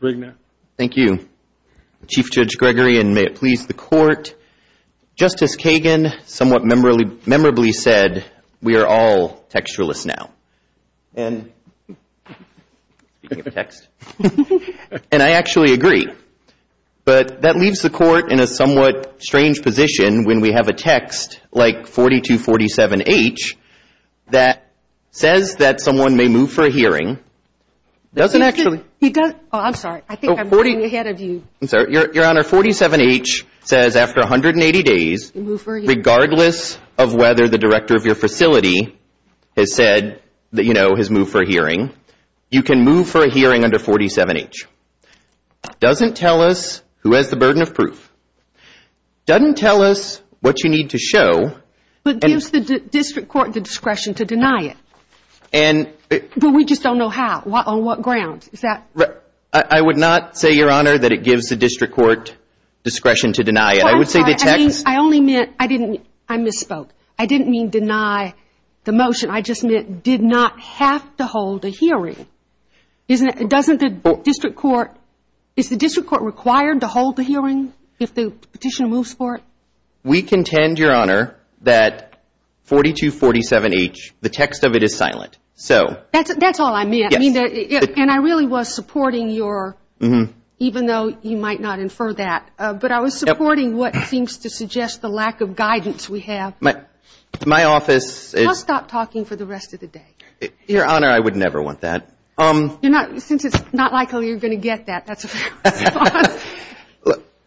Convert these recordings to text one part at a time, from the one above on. Thank you. Chief Judge Gregory, and may it please the Court, Justice Kagan somewhat memorably said we are all textualists now. And I actually agree. But that leaves the Court in a somewhat doesn't actually. Your Honor, 47H says after 180 days, regardless of whether the director of your facility has said that, you know, has moved for a hearing, you can move for a hearing under 47H. Doesn't tell us who has the burden of proof. Doesn't tell us what you need to show. But gives the district court the discretion to deny it. But we just don't know how. On what grounds? I would not say, Your Honor, that it gives the district court discretion to deny it. I would say the text. I only meant, I misspoke. I didn't mean deny the motion. I just meant did not have to hold a hearing. Doesn't the district court, is the district court required to hold the hearing if the petitioner moves for it? We contend, Your Honor, that 4247H, the text of it is silent. That's all I meant. And I really was supporting your, even though you might not infer that, but I was supporting what seems to suggest the lack of guidance we have. My office. I'll stop talking for the rest of the day. Your Honor, I would never want that. Since it's not likely you're going to get that.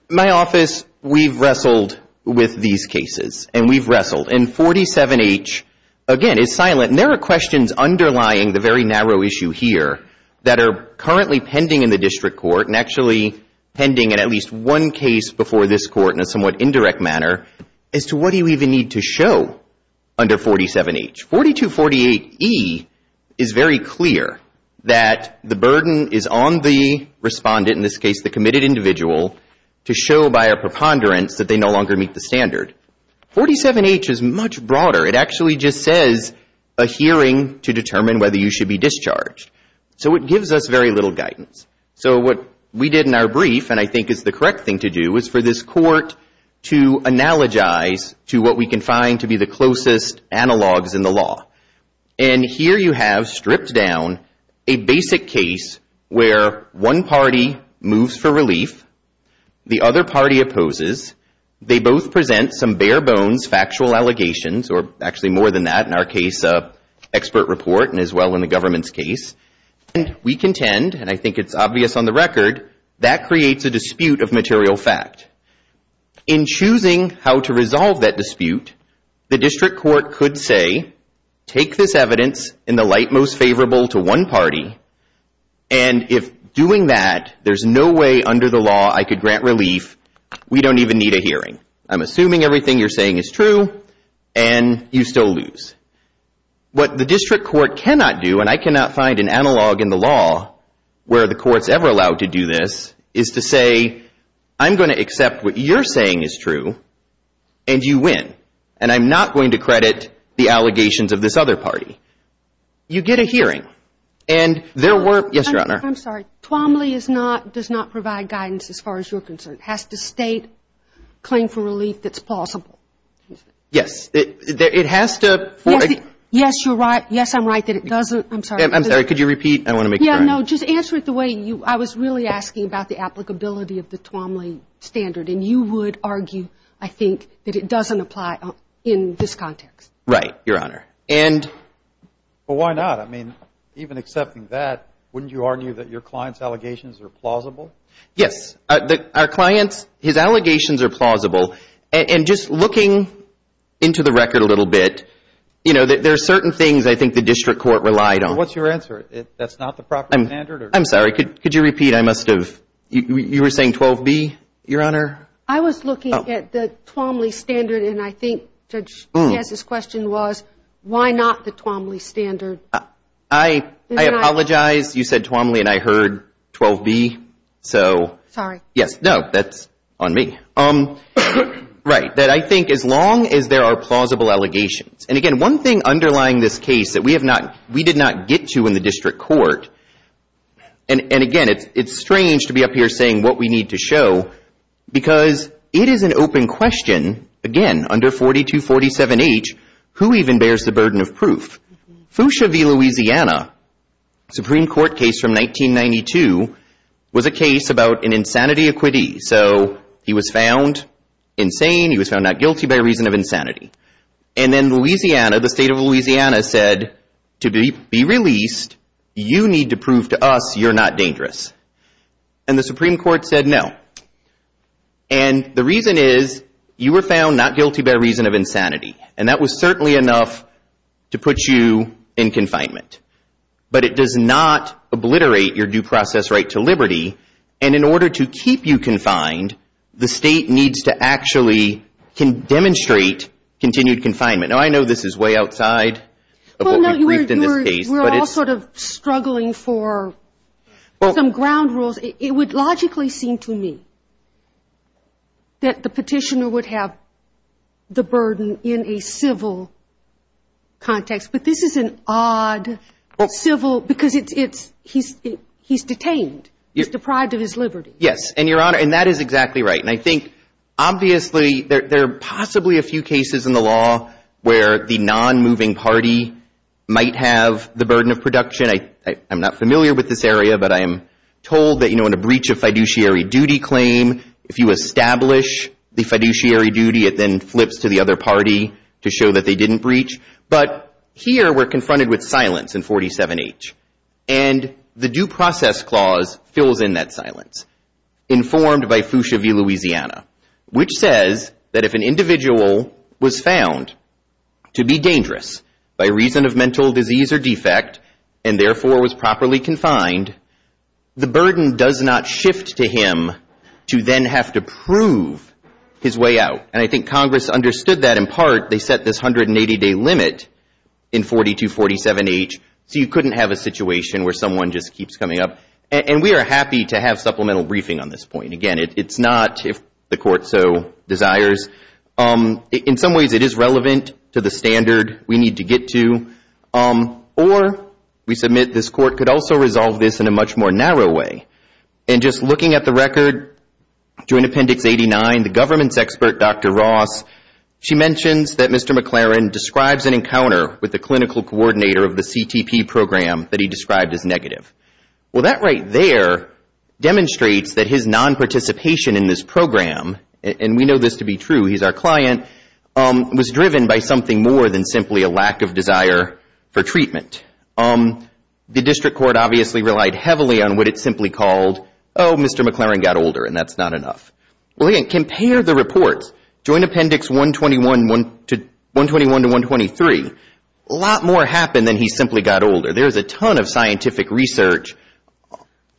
My office, we've wrestled with these cases. And we've wrestled. And 47H, again, is silent. And there are questions underlying the very narrow issue here that are currently pending in the district court, and actually pending in at least one case before this court in a somewhat indirect manner, as to what do you even need to show under 47H. 4248E is very clear that the burden is on the respondent, in this case the committed individual, to show by a preponderance that they no longer meet the standard. 47H is much broader. It actually just says a hearing to determine whether you should be discharged. So it gives us very little guidance. So what we did in our brief, and I think is the correct thing to do, is for this court to analogize to what we can find to be the closest analogs in the law. And here you have, stripped down, a basic case where one party moves for relief. The other party opposes. They both present some bare-bones factual allegations, or actually more than that. In our case, an expert report, and as well in the government's case. We contend, and I think it's obvious on the record, that creates a dispute of material fact. In choosing how to resolve that dispute, the district court could say, take this evidence in the light most favorable to one party, and if doing that there's no way under the law I could grant relief, we don't even need a hearing. I'm assuming everything you're saying is true, and you still lose. What the district court cannot do, and I cannot find an analog in the law where the court's ever allowed to do this, is to say, I'm going to accept what you're saying is true, and you win. And I'm not going to credit the allegations of this other party. You get a hearing. And there were, yes, Your Honor. I'm sorry. Twombly does not provide guidance as far as you're concerned. It has to state claim for relief that's possible. Yes. It has to. Yes, you're right. Yes, I'm right that it doesn't. I'm sorry. I'm sorry. Could you repeat? I want to make it right. Yeah, no. Just answer it the way you. I was really asking about the applicability of the Twombly standard, and you would argue, I think, that it doesn't apply in this context. Right, Your Honor. And. But why not? I mean, even accepting that, wouldn't you argue that your client's allegations are plausible? Yes. Our client's, his allegations are plausible. And just looking into the record a little bit, you know, there are certain things I think the district court relied on. What's your answer? That's not the proper standard? I'm sorry. Could you repeat? I must have. You were saying 12B, Your Honor? I was looking at the Twombly standard, and I think Judge Taz's question was, why not the Twombly standard? I apologize. You said Twombly, and I heard 12B. So. Sorry. Yes. No, that's on me. Right. That I think as long as there are plausible allegations. And, again, one thing underlying this case that we did not get to in the district court, and, again, it's strange to be up here saying what we need to show, because it is an open question, again, under 4247H, who even bears the burden of proof. Fuchsia v. Louisiana, Supreme Court case from 1992, was a case about an insanity acquittee. So he was found insane. He was found not guilty by reason of insanity. And then Louisiana, the state of Louisiana, said to be released, you need to prove to us you're not dangerous. And the Supreme Court said no. And that was certainly enough to put you in confinement. But it does not obliterate your due process right to liberty. And in order to keep you confined, the state needs to actually demonstrate continued confinement. Now, I know this is way outside of what we briefed in this case. We're all sort of struggling for some ground rules. It would logically seem to me that the petitioner would have the burden in a civil context, but this is an odd civil, because he's detained. He's deprived of his liberty. Yes, and, Your Honor, and that is exactly right. And I think, obviously, there are possibly a few cases in the law where the non-moving party might have the burden of production. I'm not familiar with this area, but I am told that, you know, in a breach of fiduciary duty claim, if you establish the fiduciary duty, it then flips to the other party to show that they didn't breach. But here we're confronted with silence in 47H. And the Due Process Clause fills in that silence, informed by FUSHA v. Louisiana, which says that if an individual was found to be dangerous by reason of mental disease or defect and, therefore, was properly confined, the burden does not shift to him to then have to prove his way out. And I think Congress understood that in part. They set this 180-day limit in 4247H, so you couldn't have a situation where someone just keeps coming up. And we are happy to have supplemental briefing on this point. Again, it's not if the Court so desires. In some ways, it is relevant to the standard we need to get to. Or we submit this Court could also resolve this in a much more narrow way. And just looking at the record, Joint Appendix 89, the government's expert, Dr. Ross, she mentions that Mr. McLaren describes an encounter with the clinical coordinator of the CTP program that he described as negative. Well, that right there demonstrates that his nonparticipation in this program, and we know this to be true, he's our client, was driven by something more than simply a lack of desire for treatment. The District Court obviously relied heavily on what it simply called, oh, Mr. McLaren got older and that's not enough. Well, again, compare the reports. Joint Appendix 121 to 123. A lot more happened than he simply got older. There is a ton of scientific research.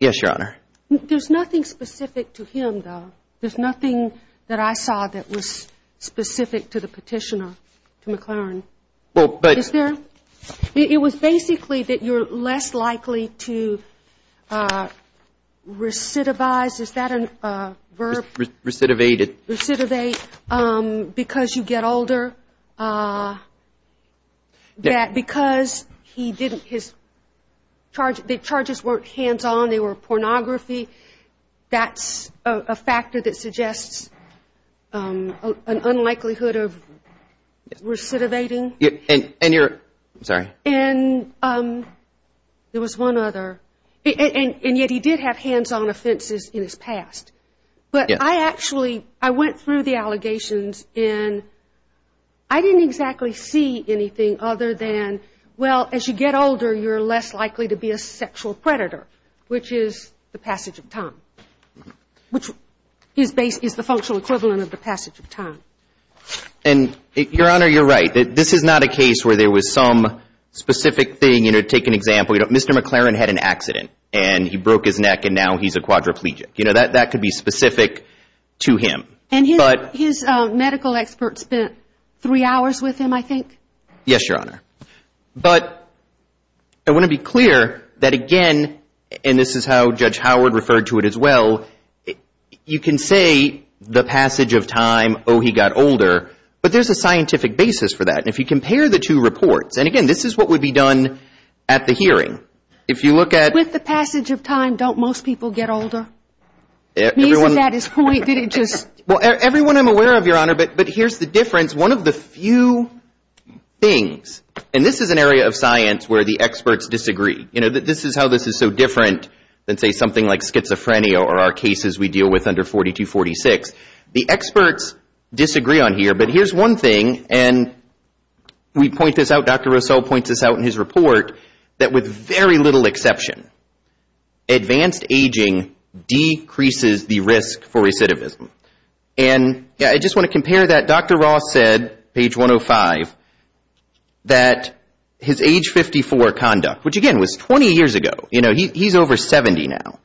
Yes, Your Honor. There's nothing specific to him, though. There's nothing that I saw that was specific to the petitioner, to McLaren. Is there? It was basically that you're less likely to recidivize. Is that a verb? Recidivate. Recidivate because you get older. That because he didn't, his charges weren't hands-on. They were pornography. That's a factor that suggests an unlikelihood of recidivating. And you're, sorry. And there was one other. And yet he did have hands-on offenses in his past. But I actually, I went through the allegations and I didn't exactly see anything other than, well, as you get older, you're less likely to be a sexual predator, which is the passage of time. Which is the functional equivalent of the passage of time. And, Your Honor, you're right. This is not a case where there was some specific thing. You know, take an example. Mr. McLaren had an accident and he broke his neck and now he's a quadriplegic. You know, that could be specific to him. And his medical expert spent three hours with him, I think? Yes, Your Honor. But I want to be clear that, again, and this is how Judge Howard referred to it as well, you can say the passage of time, oh, he got older. But there's a scientific basis for that. And if you compare the two reports, and, again, this is what would be done at the hearing. If you look at... With the passage of time, don't most people get older? Everyone... Isn't that his point? Did it just... Well, everyone I'm aware of, Your Honor, but here's the difference. Here's one of the few things, and this is an area of science where the experts disagree. You know, this is how this is so different than, say, something like schizophrenia or our cases we deal with under 4246. The experts disagree on here, but here's one thing, and we point this out, Dr. Rossell points this out in his report, that with very little exception, advanced aging decreases the risk for recidivism. And I just want to compare that. Dr. Ross said, page 105, that his age 54 conduct, which, again, was 20 years ago. You know, he's over 70 now.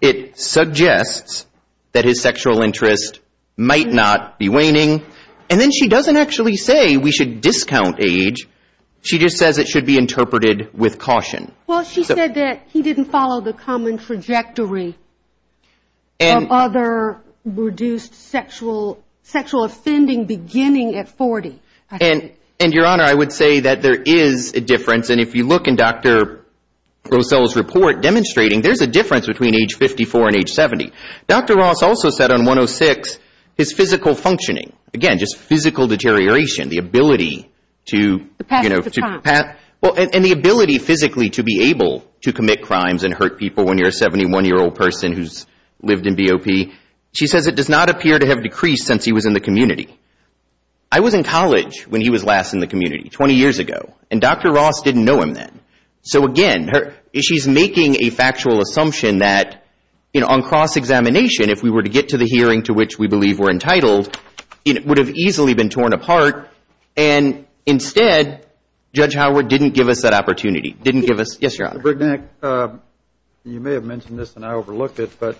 It suggests that his sexual interest might not be waning, and then she doesn't actually say we should discount age. She just says it should be interpreted with caution. Well, she said that he didn't follow the common trajectory of other reduced sexual offending beginning at 40. And, Your Honor, I would say that there is a difference, and if you look in Dr. Rossell's report demonstrating, there's a difference between age 54 and age 70. Dr. Ross also said on 106 his physical functioning, again, just physical deterioration, the ability to... The passage of time. Well, and the ability physically to be able to commit crimes and hurt people when you're a 71-year-old person who's lived in BOP. She says it does not appear to have decreased since he was in the community. I was in college when he was last in the community, 20 years ago, and Dr. Ross didn't know him then. So, again, she's making a factual assumption that, you know, on cross-examination, if we were to get to the hearing to which we believe we're entitled, it would have easily been torn apart, and instead, Judge Howard didn't give us that opportunity, didn't give us... Yes, Your Honor. Brignac, you may have mentioned this and I overlooked it, but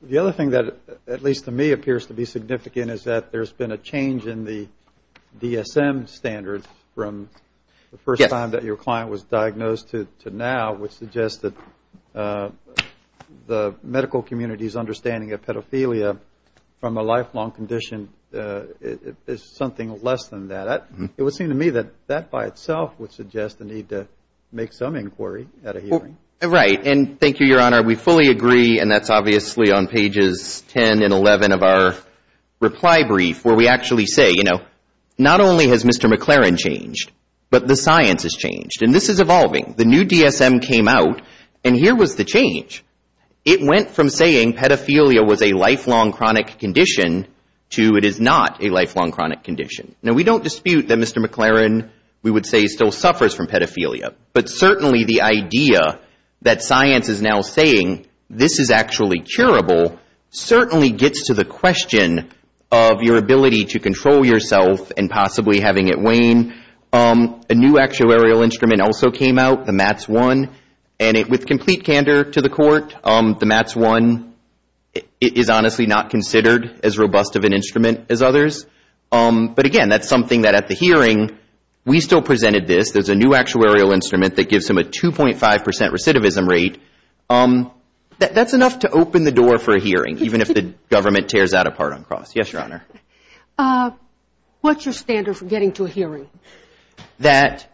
the other thing that, at least to me, appears to be significant is that there's been a change in the DSM standards from the first time that your client was diagnosed to now, which suggests that the medical community's understanding of pedophilia from a lifelong condition is something less than that. It would seem to me that that by itself would suggest the need to make some inquiry at a hearing. Right, and thank you, Your Honor. We fully agree, and that's obviously on pages 10 and 11 of our reply brief, where we actually say, you know, not only has Mr. McLaren changed, but the science has changed, and this is evolving. The new DSM came out, and here was the change. It went from saying pedophilia was a lifelong chronic condition to it is not a lifelong chronic condition. Now, we don't dispute that Mr. McLaren, we would say, still suffers from pedophilia, but certainly the idea that science is now saying this is actually curable certainly gets to the question of your ability to control yourself and possibly having it wane. A new actuarial instrument also came out, the MATS-1, and with complete candor to the court, the MATS-1 is honestly not considered as robust of an instrument as others. But again, that's something that at the hearing, we still presented this. There's a new actuarial instrument that gives him a 2.5 percent recidivism rate. That's enough to open the door for a hearing, even if the government tears that apart on cross. Yes, Your Honor. What's your standard for getting to a hearing? That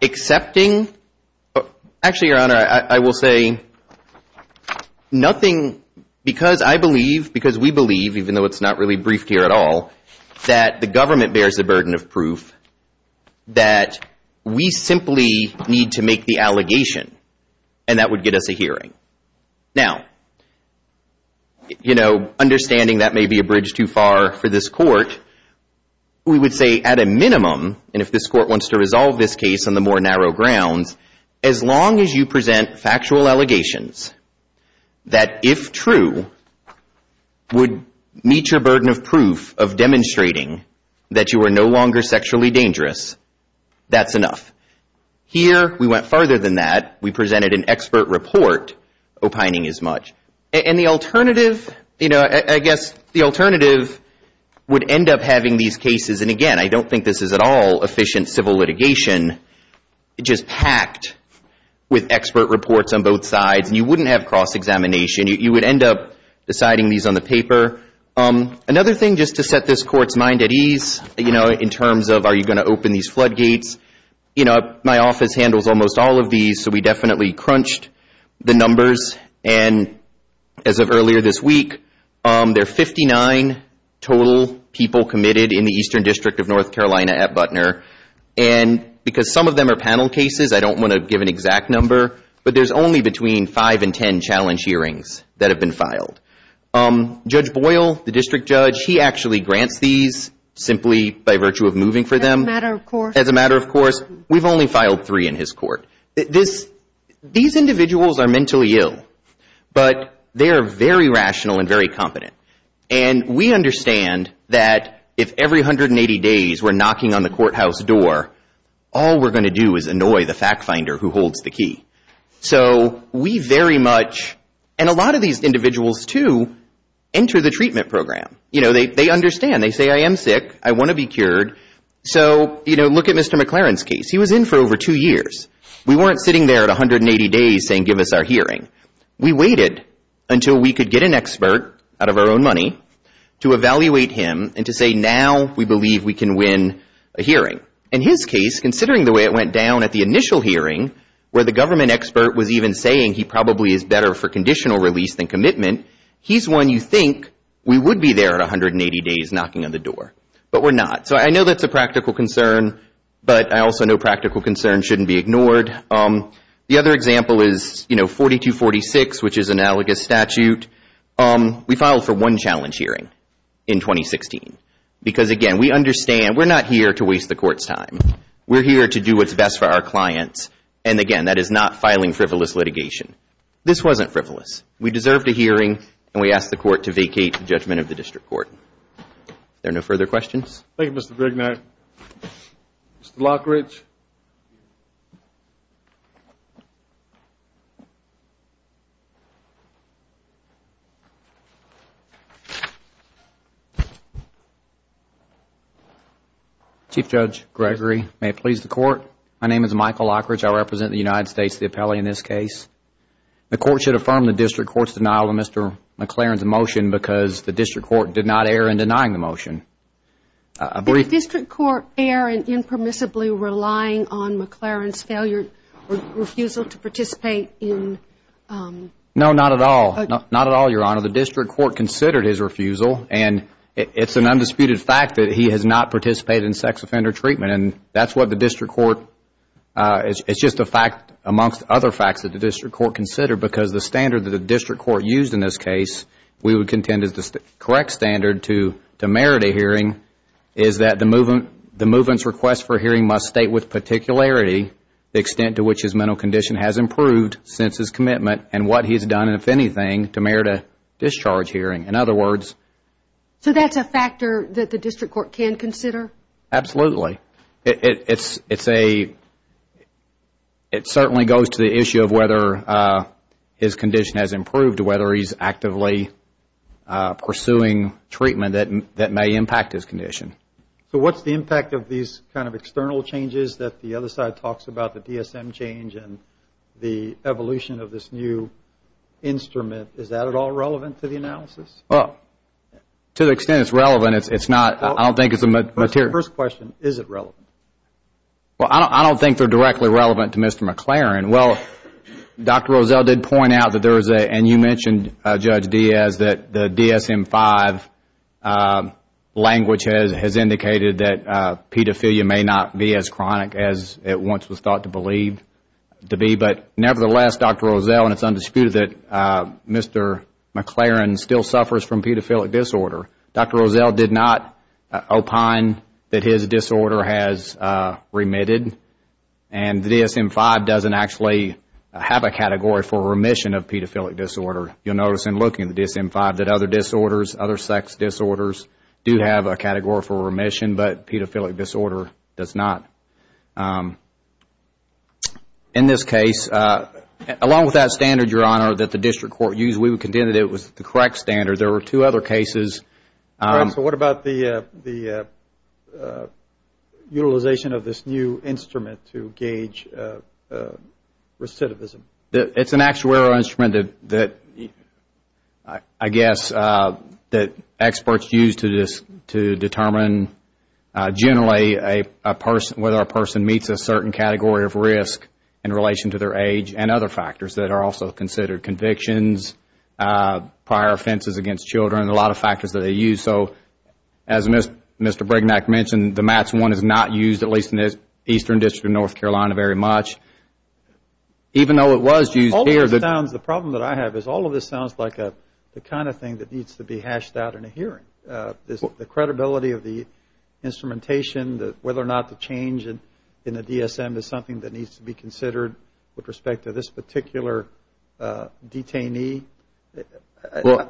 accepting—actually, Your Honor, I will say nothing because I believe, because we believe, even though it's not really briefed here at all, that the government bears the burden of proof that we simply need to make the allegation, and that would get us a hearing. Now, you know, understanding that may be a bridge too far for this court, we would say at a minimum, and if this court wants to resolve this case on the more narrow grounds, as long as you present factual allegations that, if true, would meet your burden of proof of demonstrating that you are no longer sexually dangerous, that's enough. Here, we went farther than that. We presented an expert report, opining as much. And the alternative, you know, I guess the alternative would end up having these cases, and again, I don't think this is at all efficient civil litigation, just packed with expert reports on both sides, and you wouldn't have cross-examination. You would end up deciding these on the paper. Another thing, just to set this court's mind at ease, you know, in terms of are you going to open these floodgates, you know, my office handles almost all of these, so we definitely crunched the numbers, and as of earlier this week, there are 59 total people committed in the Eastern District of North Carolina at Butner, and because some of them are panel cases, I don't want to give an exact number, but there's only between 5 and 10 challenge hearings that have been filed. Judge Boyle, the district judge, he actually grants these simply by virtue of moving for them. As a matter of course. As a matter of course. We've only filed three in his court. These individuals are mentally ill, but they are very rational and very competent, and we understand that if every 180 days we're knocking on the courthouse door, all we're going to do is annoy the fact finder who holds the key. So we very much, and a lot of these individuals too, enter the treatment program. You know, they understand. They say I am sick. I want to be cured. So, you know, look at Mr. McLaren's case. He was in for over two years. We weren't sitting there at 180 days saying give us our hearing. We waited until we could get an expert out of our own money to evaluate him and to say now we believe we can win a hearing. In his case, considering the way it went down at the initial hearing, where the government expert was even saying he probably is better for conditional release than commitment, he's one you think we would be there at 180 days knocking on the door, but we're not. So I know that's a practical concern, but I also know practical concerns shouldn't be ignored. The other example is, you know, 4246, which is analogous statute. We filed for one challenge hearing in 2016 because, again, we understand. We're not here to waste the court's time. We're here to do what's best for our clients, and, again, that is not filing frivolous litigation. This wasn't frivolous. We deserved a hearing, and we asked the court to vacate the judgment of the district court. Are there no further questions? Thank you, Mr. Brignard. Mr. Lockridge. Chief Judge Gregory, may it please the court. My name is Michael Lockridge. I represent the United States, the appellee in this case. The court should affirm the district court's denial of Mr. McLaren's motion because the district court did not err in denying the motion. Did the district court err in impermissibly relying on McLaren's failure or refusal to participate in? No, not at all. Not at all, Your Honor. No, the district court considered his refusal, and it's an undisputed fact that he has not participated in sex offender treatment. It's just a fact amongst other facts that the district court considered because the standard that the district court used in this case, we would contend is the correct standard to merit a hearing, is that the movement's request for hearing must state with particularity the extent to which his mental condition has improved since his commitment and what he's done, and if anything, to merit a discharge hearing. In other words... So that's a factor that the district court can consider? Absolutely. It certainly goes to the issue of whether his condition has improved, whether he's actively pursuing treatment that may impact his condition. So what's the impact of these kind of external changes that the other side talks about, the DSM change and the evolution of this new instrument, is that at all relevant to the analysis? To the extent it's relevant, it's not. I don't think it's a material... First question, is it relevant? Well, I don't think they're directly relevant to Mr. McLaren. Well, Dr. Rozelle did point out that there is a, and you mentioned, Judge Diaz, that the DSM-5 language has indicated that pedophilia may not be as chronic as it once was thought to be, but nevertheless, Dr. Rozelle, and it's undisputed that Mr. McLaren still suffers from pedophilic disorder. Dr. Rozelle did not opine that his disorder has remitted, and the DSM-5 doesn't actually have a category for remission of pedophilic disorder. You'll notice in looking at the DSM-5 that other sex disorders do have a category for remission, but pedophilic disorder does not. In this case, along with that standard, Your Honor, that the district court used, we would contend that it was the correct standard. There were two other cases. So what about the utilization of this new instrument to gauge recidivism? It's an actuarial instrument that I guess that experts use to determine generally whether a person meets a certain category of risk in relation to their age and other factors that are also considered convictions, prior offenses against children, a lot of factors that they use. So as Mr. Brignac mentioned, the MATS-1 is not used, at least in the eastern district or in North Carolina very much, even though it was used here. The problem that I have is all of this sounds like the kind of thing that needs to be hashed out in a hearing, the credibility of the instrumentation, whether or not the change in the DSM is something that needs to be considered with respect to this particular detainee.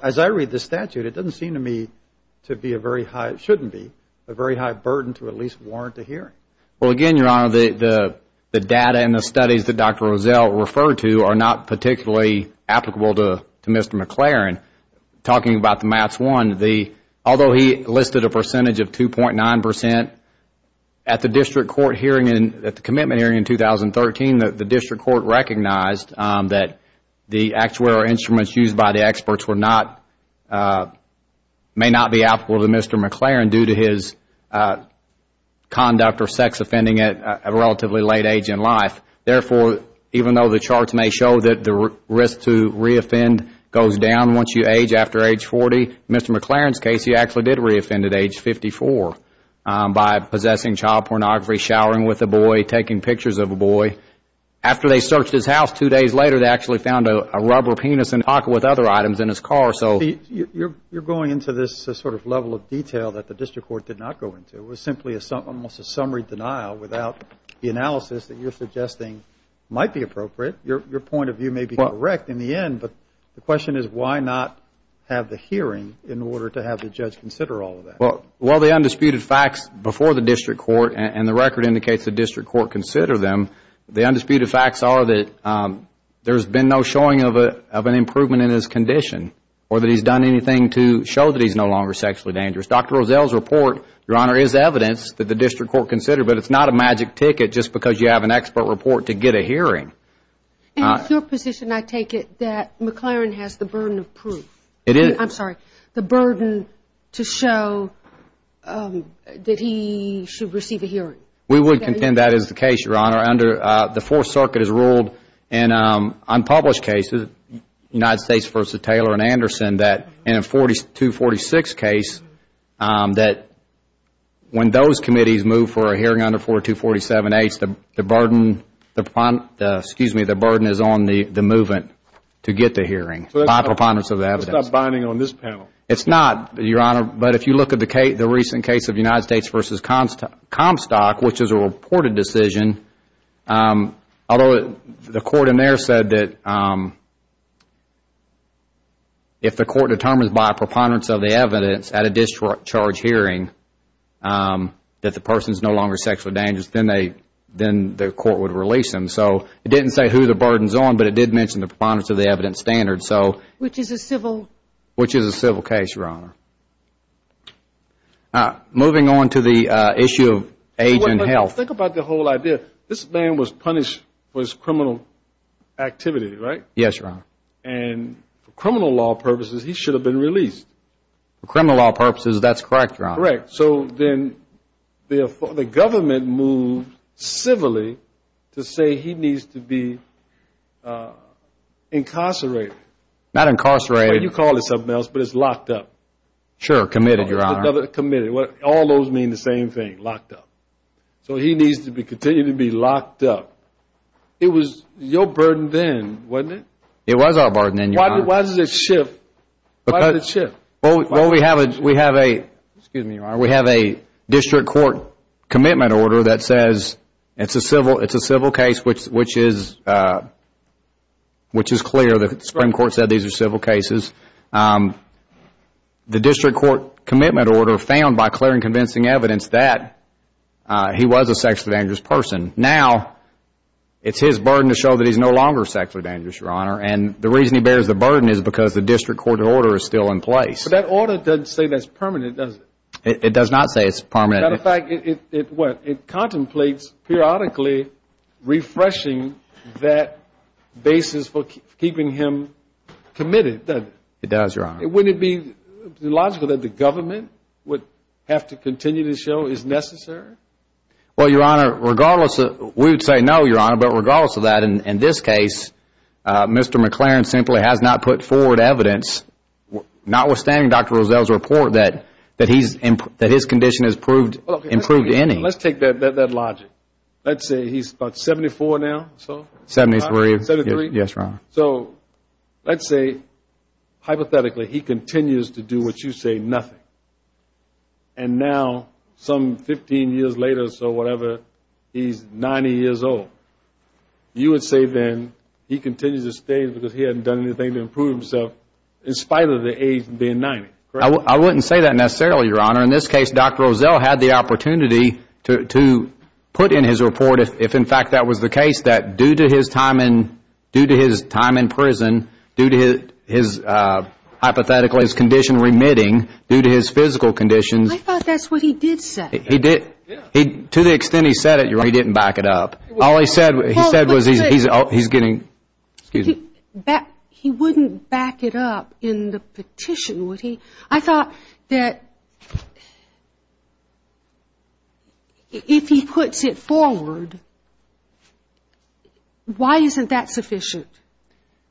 As I read the statute, it doesn't seem to me to be a very high, it shouldn't be, a very high burden to at least warrant a hearing. Well, again, Your Honor, the data and the studies that Dr. Rozelle referred to are not particularly applicable to Mr. McLaren. Talking about the MATS-1, although he listed a percentage of 2.9 percent, at the district court hearing, at the commitment hearing in 2013, the district court recognized that the actuarial instruments used by the experts may not be applicable to Mr. McLaren due to his conduct or sex offending at a relatively late age in life. Therefore, even though the charts may show that the risk to reoffend goes down once you age after age 40, in Mr. McLaren's case he actually did reoffend at age 54 by possessing child pornography, showering with a boy, taking pictures of a boy. After they searched his house two days later, they actually found a rubber penis in a pocket with other items in his car. You're going into this sort of level of detail that the district court did not go into. It was simply almost a summary denial without the analysis that you're suggesting might be appropriate. Your point of view may be correct in the end, but the question is why not have the hearing in order to have the judge consider all of that? Well, the undisputed facts before the district court and the record indicates the district court considered them, the undisputed facts are that there's been no showing of an improvement in his condition or that he's done anything to show that he's no longer sexually dangerous. Dr. Rozelle's report, Your Honor, is evidence that the district court considered, but it's not a magic ticket just because you have an expert report to get a hearing. And it's your position, I take it, that McLaren has the burden of proof. It is. I'm sorry, the burden to show that he should receive a hearing. We would contend that is the case, Your Honor. The Fourth Circuit has ruled in unpublished cases, United States v. Taylor and Anderson, that in a 4246 case that when those committees move for a hearing under 4247H, the burden is on the movement to get the hearing by preponderance of the evidence. That's not binding on this panel. It's not, Your Honor. But if you look at the recent case of United States v. Comstock, which is a reported decision, although the court in there said that if the court determines by preponderance of the evidence at a discharge hearing that the person is no longer sexually dangerous, then the court would release him. So it didn't say who the burden is on, but it did mention the preponderance of the evidence standard. Which is a civil. That is the case, Your Honor. Moving on to the issue of age and health. Think about the whole idea. This man was punished for his criminal activity, right? Yes, Your Honor. And for criminal law purposes, he should have been released. For criminal law purposes, that's correct, Your Honor. Correct. So then the government moved civilly to say he needs to be incarcerated. Not incarcerated. You call it something else, but it's locked up. Sure. Committed, Your Honor. Committed. All those mean the same thing. Locked up. So he needs to continue to be locked up. It was your burden then, wasn't it? It was our burden then, Your Honor. Why does it shift? Well, we have a district court commitment order that says it's a civil case, which is clear. The Supreme Court said these are civil cases. The district court commitment order found by clear and convincing evidence that he was a sexually dangerous person. Now it's his burden to show that he's no longer sexually dangerous, Your Honor. And the reason he bears the burden is because the district court order is still in place. But that order doesn't say that's permanent, does it? It does not say it's permanent. As a matter of fact, it contemplates periodically refreshing that basis for keeping him committed, doesn't it? It does, Your Honor. Wouldn't it be logical that the government would have to continue to show it's necessary? Well, Your Honor, regardless, we would say no, Your Honor. But regardless of that, in this case, Mr. McLaren simply has not put forward evidence, notwithstanding Dr. Rozell's report, that his condition has improved any. Let's take that logic. Let's say he's about 74 now or so. Seventy-three. Seventy-three? Yes, Your Honor. So let's say, hypothetically, he continues to do what you say, nothing. And now, some 15 years later or so, whatever, he's 90 years old. You would say then he continues to stay because he hasn't done anything to improve himself, in spite of the age being 90, correct? I wouldn't say that necessarily, Your Honor. In this case, Dr. Rozell had the opportunity to put in his report, if in fact that was the case, that due to his time in prison, due to his hypothetical condition remitting, due to his physical conditions. I thought that's what he did say. He did. To the extent he said it, Your Honor, he didn't back it up. All he said was he's getting, excuse me. He wouldn't back it up in the petition, would he? I thought that if he puts it forward, why isn't that sufficient?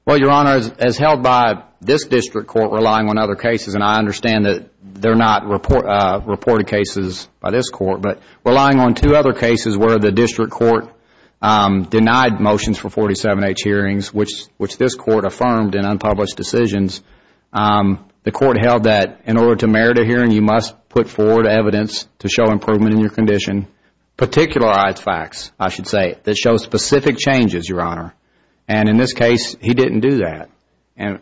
Well, Your Honor, as held by this district court relying on other cases, and I understand that they're not reported cases by this court, but relying on two other cases where the district court denied motions for 47H hearings, which this court affirmed in unpublished decisions, the court held that in order to merit a hearing, you must put forward evidence to show improvement in your condition, particularized facts, I should say, that show specific changes, Your Honor. And in this case, he didn't do that. And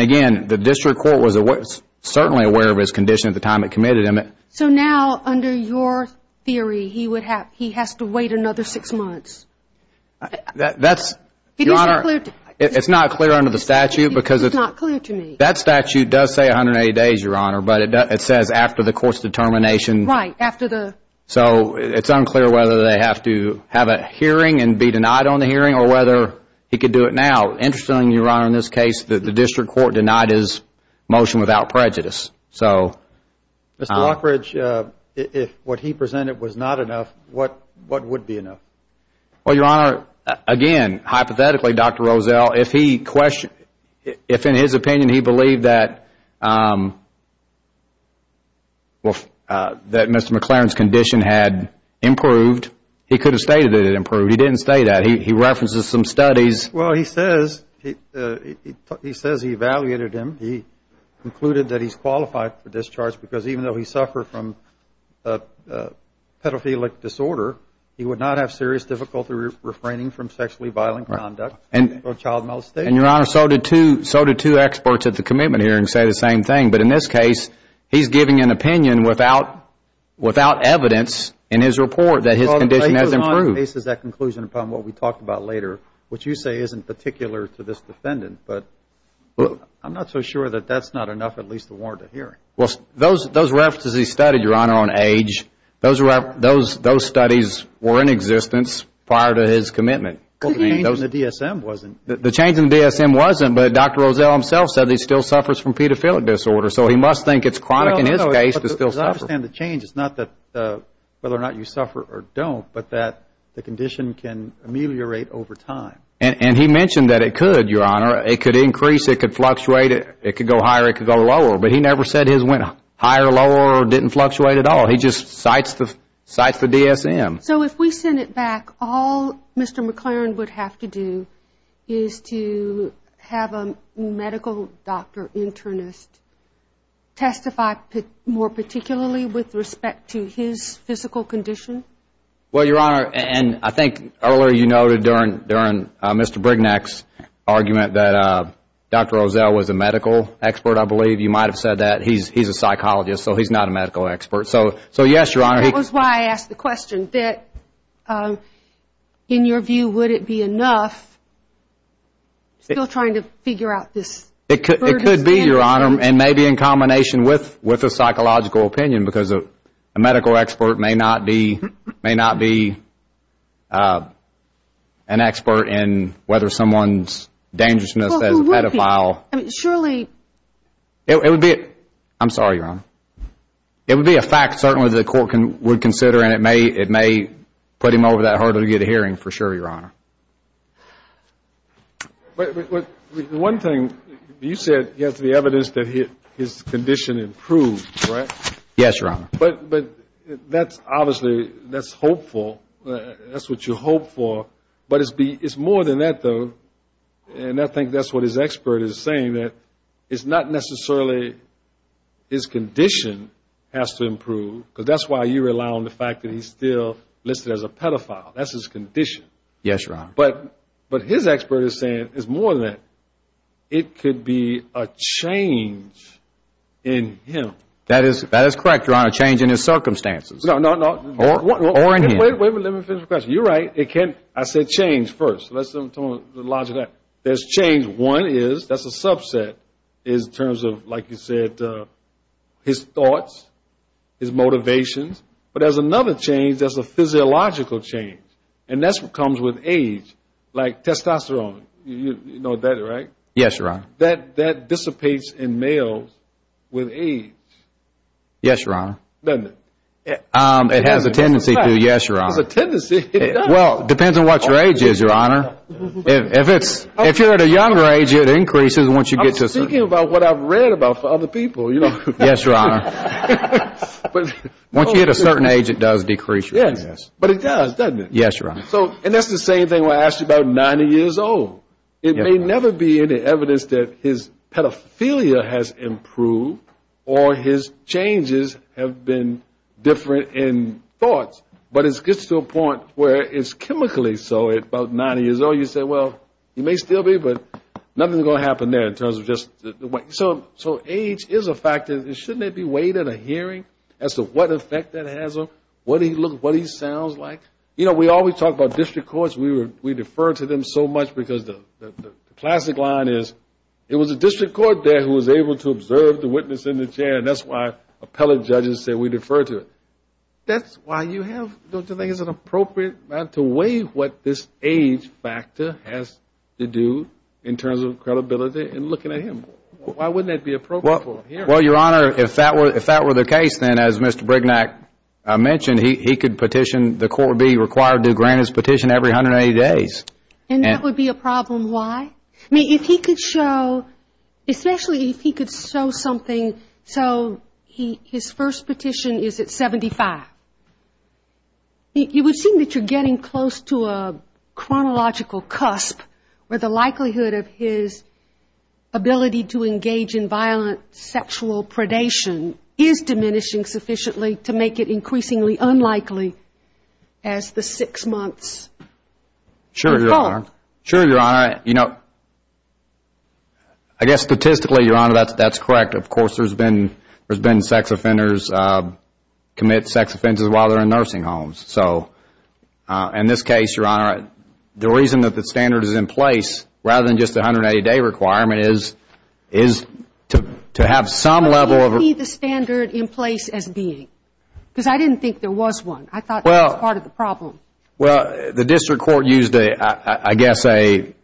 again, the district court was certainly aware of his condition at the time it committed him. So now, under your theory, he has to wait another six months. That's, Your Honor, it's not clear under the statute. It's not clear to me. That statute does say 180 days, Your Honor, but it says after the court's determination. Right, after the. So it's unclear whether they have to have a hearing and be denied on the hearing or whether he could do it now. Interestingly, Your Honor, in this case, the district court denied his motion without prejudice. Mr. Lockridge, if what he presented was not enough, what would be enough? Well, Your Honor, again, hypothetically, Dr. Rozelle, if in his opinion he believed that Mr. McLaren's condition had improved, he could have stated it improved. He didn't state that. He references some studies. Well, he says he evaluated him. He concluded that he's qualified for discharge because even though he suffered from a pedophilic disorder, he would not have serious difficulty refraining from sexually violent conduct or child molestation. And, Your Honor, so did two experts at the commitment hearing say the same thing. But in this case, he's giving an opinion without evidence in his report that his condition has improved. Well, he goes on and bases that conclusion upon what we talked about later, which you say isn't particular to this defendant. But I'm not so sure that that's not enough, at least to warrant a hearing. Well, those references he studied, Your Honor, on age, those studies were in existence prior to his commitment. Well, the change in the DSM wasn't. The change in the DSM wasn't, but Dr. Rozelle himself said he still suffers from pedophilic disorder. So he must think it's chronic in his case to still suffer. As I understand the change, it's not whether or not you suffer or don't, but that the condition can ameliorate over time. And he mentioned that it could, Your Honor. It could increase. It could fluctuate. It could go higher. It could go lower. But he never said his went higher, lower, or didn't fluctuate at all. He just cites the DSM. So if we send it back, all Mr. McLaren would have to do is to have a medical doctor internist testify more particularly with respect to his physical condition? Well, Your Honor, and I think earlier you noted during Mr. Brignac's argument that Dr. Rozelle was a medical expert, I believe. You might have said that. He's a psychologist, so he's not a medical expert. So yes, Your Honor. That was why I asked the question, that in your view, would it be enough still trying to figure out this burden? It could be, Your Honor, and maybe in combination with a psychological opinion because a medical expert may not be an expert in whether someone's dangerousness as a pedophile. Surely. I'm sorry, Your Honor. It would be a fact certainly the court would consider, and it may put him over that hurdle to get a hearing for sure, Your Honor. But one thing, you said he has the evidence that his condition improved, right? Yes, Your Honor. But that's obviously hopeful. That's what you hope for. But it's more than that, though, and I think that's what his expert is saying, that it's not necessarily his condition has to improve, because that's why you rely on the fact that he's still listed as a pedophile. That's his condition. Yes, Your Honor. But his expert is saying it's more than that. It could be a change in him. That is correct, Your Honor, a change in his circumstances. No, no, no. Or in him. Wait a minute. Let me finish my question. You're right. I said change first. So let's talk about the logic of that. There's change. One is that's a subset in terms of, like you said, his thoughts, his motivations. But there's another change that's a physiological change. And that comes with age, like testosterone. You know that, right? Yes, Your Honor. That dissipates in males with age. Yes, Your Honor. Doesn't it? It has a tendency to, yes, Your Honor. It has a tendency. It does. Well, it depends on what your age is, Your Honor. If you're at a younger age, it increases once you get to a certain age. I'm thinking about what I've read about for other people, you know. Yes, Your Honor. Once you get a certain age, it does decrease. Yes, but it does, doesn't it? Yes, Your Honor. And that's the same thing when I asked you about 90 years old. It may never be any evidence that his pedophilia has improved or his changes have been different in thoughts. But it gets to a point where it's chemically so. At about 90 years old, you say, well, it may still be, but nothing's going to happen there in terms of just the way. So age is a factor. Shouldn't it be weighed in a hearing as to what effect that has on what he looks, what he sounds like? You know, we always talk about district courts. We defer to them so much because the classic line is, it was a district court there who was able to observe the witness in the chair, and that's why appellate judges say we defer to it. That's why you have to weigh what this age factor has to do in terms of credibility and looking at him. Why wouldn't that be appropriate for a hearing? Well, Your Honor, if that were the case, then, as Mr. Brignac mentioned, he could petition, the court would be required to grant his petition every 180 days. And that would be a problem. Why? I mean, if he could show, especially if he could show something. So his first petition is at 75. You would assume that you're getting close to a chronological cusp where the likelihood of his ability to engage in violent sexual predation is diminishing sufficiently to make it increasingly unlikely as the six months. Sure, Your Honor. Sure, Your Honor. You know, I guess statistically, Your Honor, that's correct. Of course, there's been sex offenders commit sex offenses while they're in nursing homes. So in this case, Your Honor, the reason that the standard is in place, rather than just the 180-day requirement, is to have some level of the standard in place as being. Because I didn't think there was one. I thought that was part of the problem. Well, the district court used a, I guess a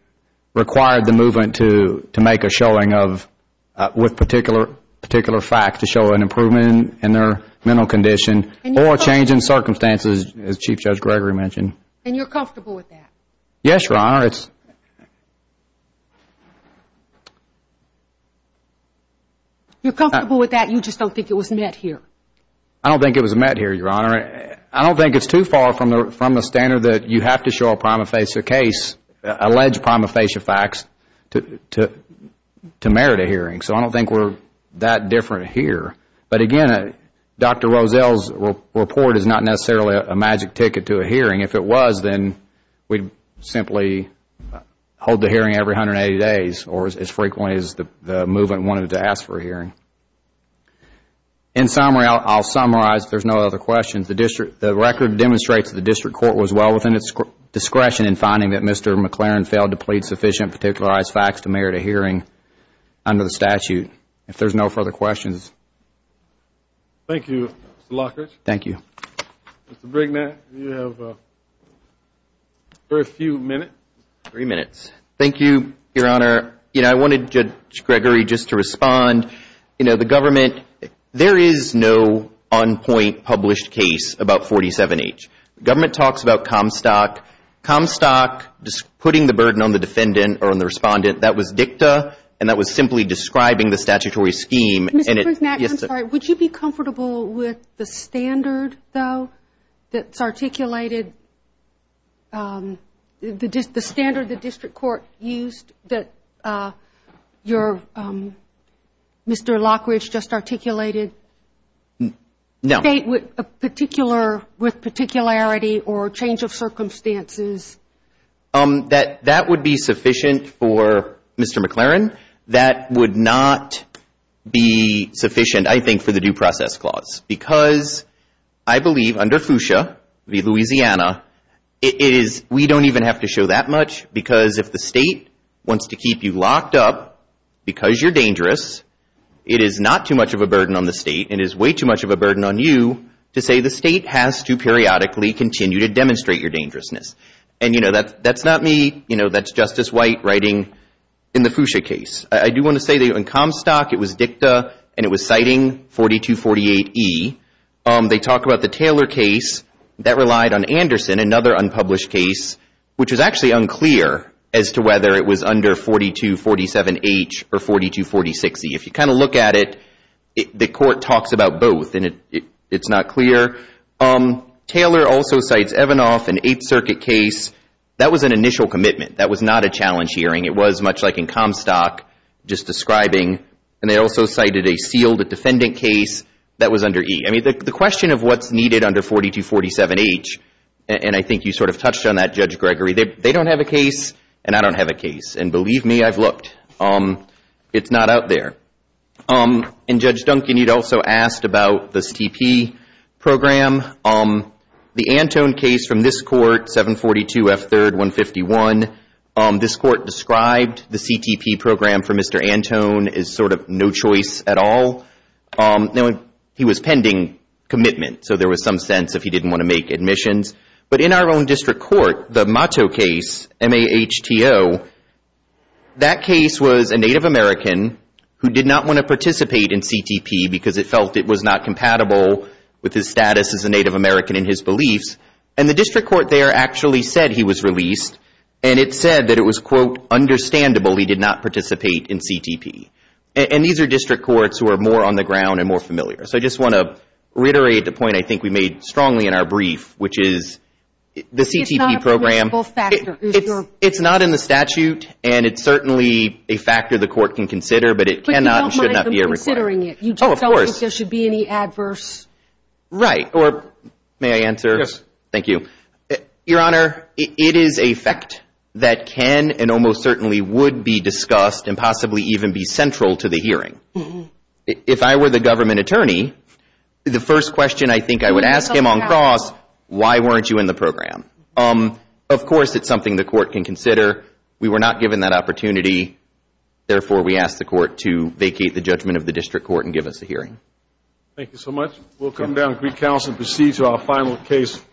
required the movement to make a showing of, with particular facts to show an improvement in their mental condition or change in circumstances, as Chief Judge Gregory mentioned. And you're comfortable with that? Yes, Your Honor. Your Honor, it's... You're comfortable with that? You just don't think it was met here? I don't think it was met here, Your Honor. I don't think it's too far from the standard that you have to show a prima facie case, allege prima facie facts to merit a hearing. So I don't think we're that different here. But again, Dr. Rozell's report is not necessarily a magic ticket to a hearing. If it was, then we'd simply hold the hearing every 180 days or as frequently as the movement wanted to ask for a hearing. In summary, I'll summarize. If there's no other questions, the record demonstrates that the district court was well within its discretion in finding that Mr. McLaren failed to plead sufficient particularized facts to merit a hearing under the statute. If there's no further questions. Thank you, Mr. Lockridge. Thank you. Mr. Brignac, you have a few minutes. Three minutes. Thank you, Your Honor. I wanted Judge Gregory just to respond. The government, there is no on-point published case about 47H. The government talks about Comstock. Comstock, putting the burden on the defendant or on the respondent, that was dicta, and that was simply describing the statutory scheme. Mr. Brignac, I'm sorry. Would you be comfortable with the standard, though, that's articulated, the standard the district court used that Mr. Lockridge just articulated? No. State with particularity or change of circumstances. That would be sufficient for Mr. McLaren. That would not be sufficient, I think, for the due process clause because I believe under FUSA v. Louisiana, we don't even have to show that much because if the state wants to keep you locked up because you're dangerous, it is not too much of a burden on the state. It is way too much of a burden on you to say the state has to periodically continue to demonstrate your dangerousness. That's not me. That's Justice White writing in the FUSA case. I do want to say that in Comstock, it was dicta, and it was citing 4248E. They talk about the Taylor case that relied on Anderson, another unpublished case, which is actually unclear as to whether it was under 4247H or 4246E. If you kind of look at it, the court talks about both, and it's not clear. Taylor also cites Evanoff, an Eighth Circuit case. That was an initial commitment. That was not a challenge hearing. It was much like in Comstock, just describing, and they also cited a sealed defendant case that was under E. I mean, the question of what's needed under 4247H, and I think you sort of touched on that, Judge Gregory. They don't have a case, and I don't have a case, and believe me, I've looked. It's not out there. And Judge Duncan, you'd also asked about the CTP program. The Antone case from this court, 742F3-151, this court described the CTP program for Mr. Antone as sort of no choice at all. He was pending commitment, so there was some sense if he didn't want to make admissions. But in our own district court, the Mato case, M-A-H-T-O, that case was a Native American who did not want to participate in CTP because it felt it was not compatible with his status as a Native American in his beliefs, and the district court there actually said he was released, and it said that it was, quote, understandable he did not participate in CTP. And these are district courts who are more on the ground and more familiar. So I just want to reiterate the point I think we made strongly in our brief, which is the CTP program. It's not a principle factor. It's not in the statute, and it's certainly a factor the court can consider, but it cannot and should not be a requirement. But you don't mind them considering it. Oh, of course. You just don't think there should be any adverse. Right. Or may I answer? Yes. Thank you. Your Honor, it is a fact that can and almost certainly would be discussed and possibly even be central to the hearing. If I were the government attorney, the first question I think I would ask him on cross, why weren't you in the program? Of course it's something the court can consider. We were not given that opportunity. Therefore, we ask the court to vacate the judgment of the district court and give us a hearing. Thank you so much. We'll come down to Greek Council and proceed to our final case.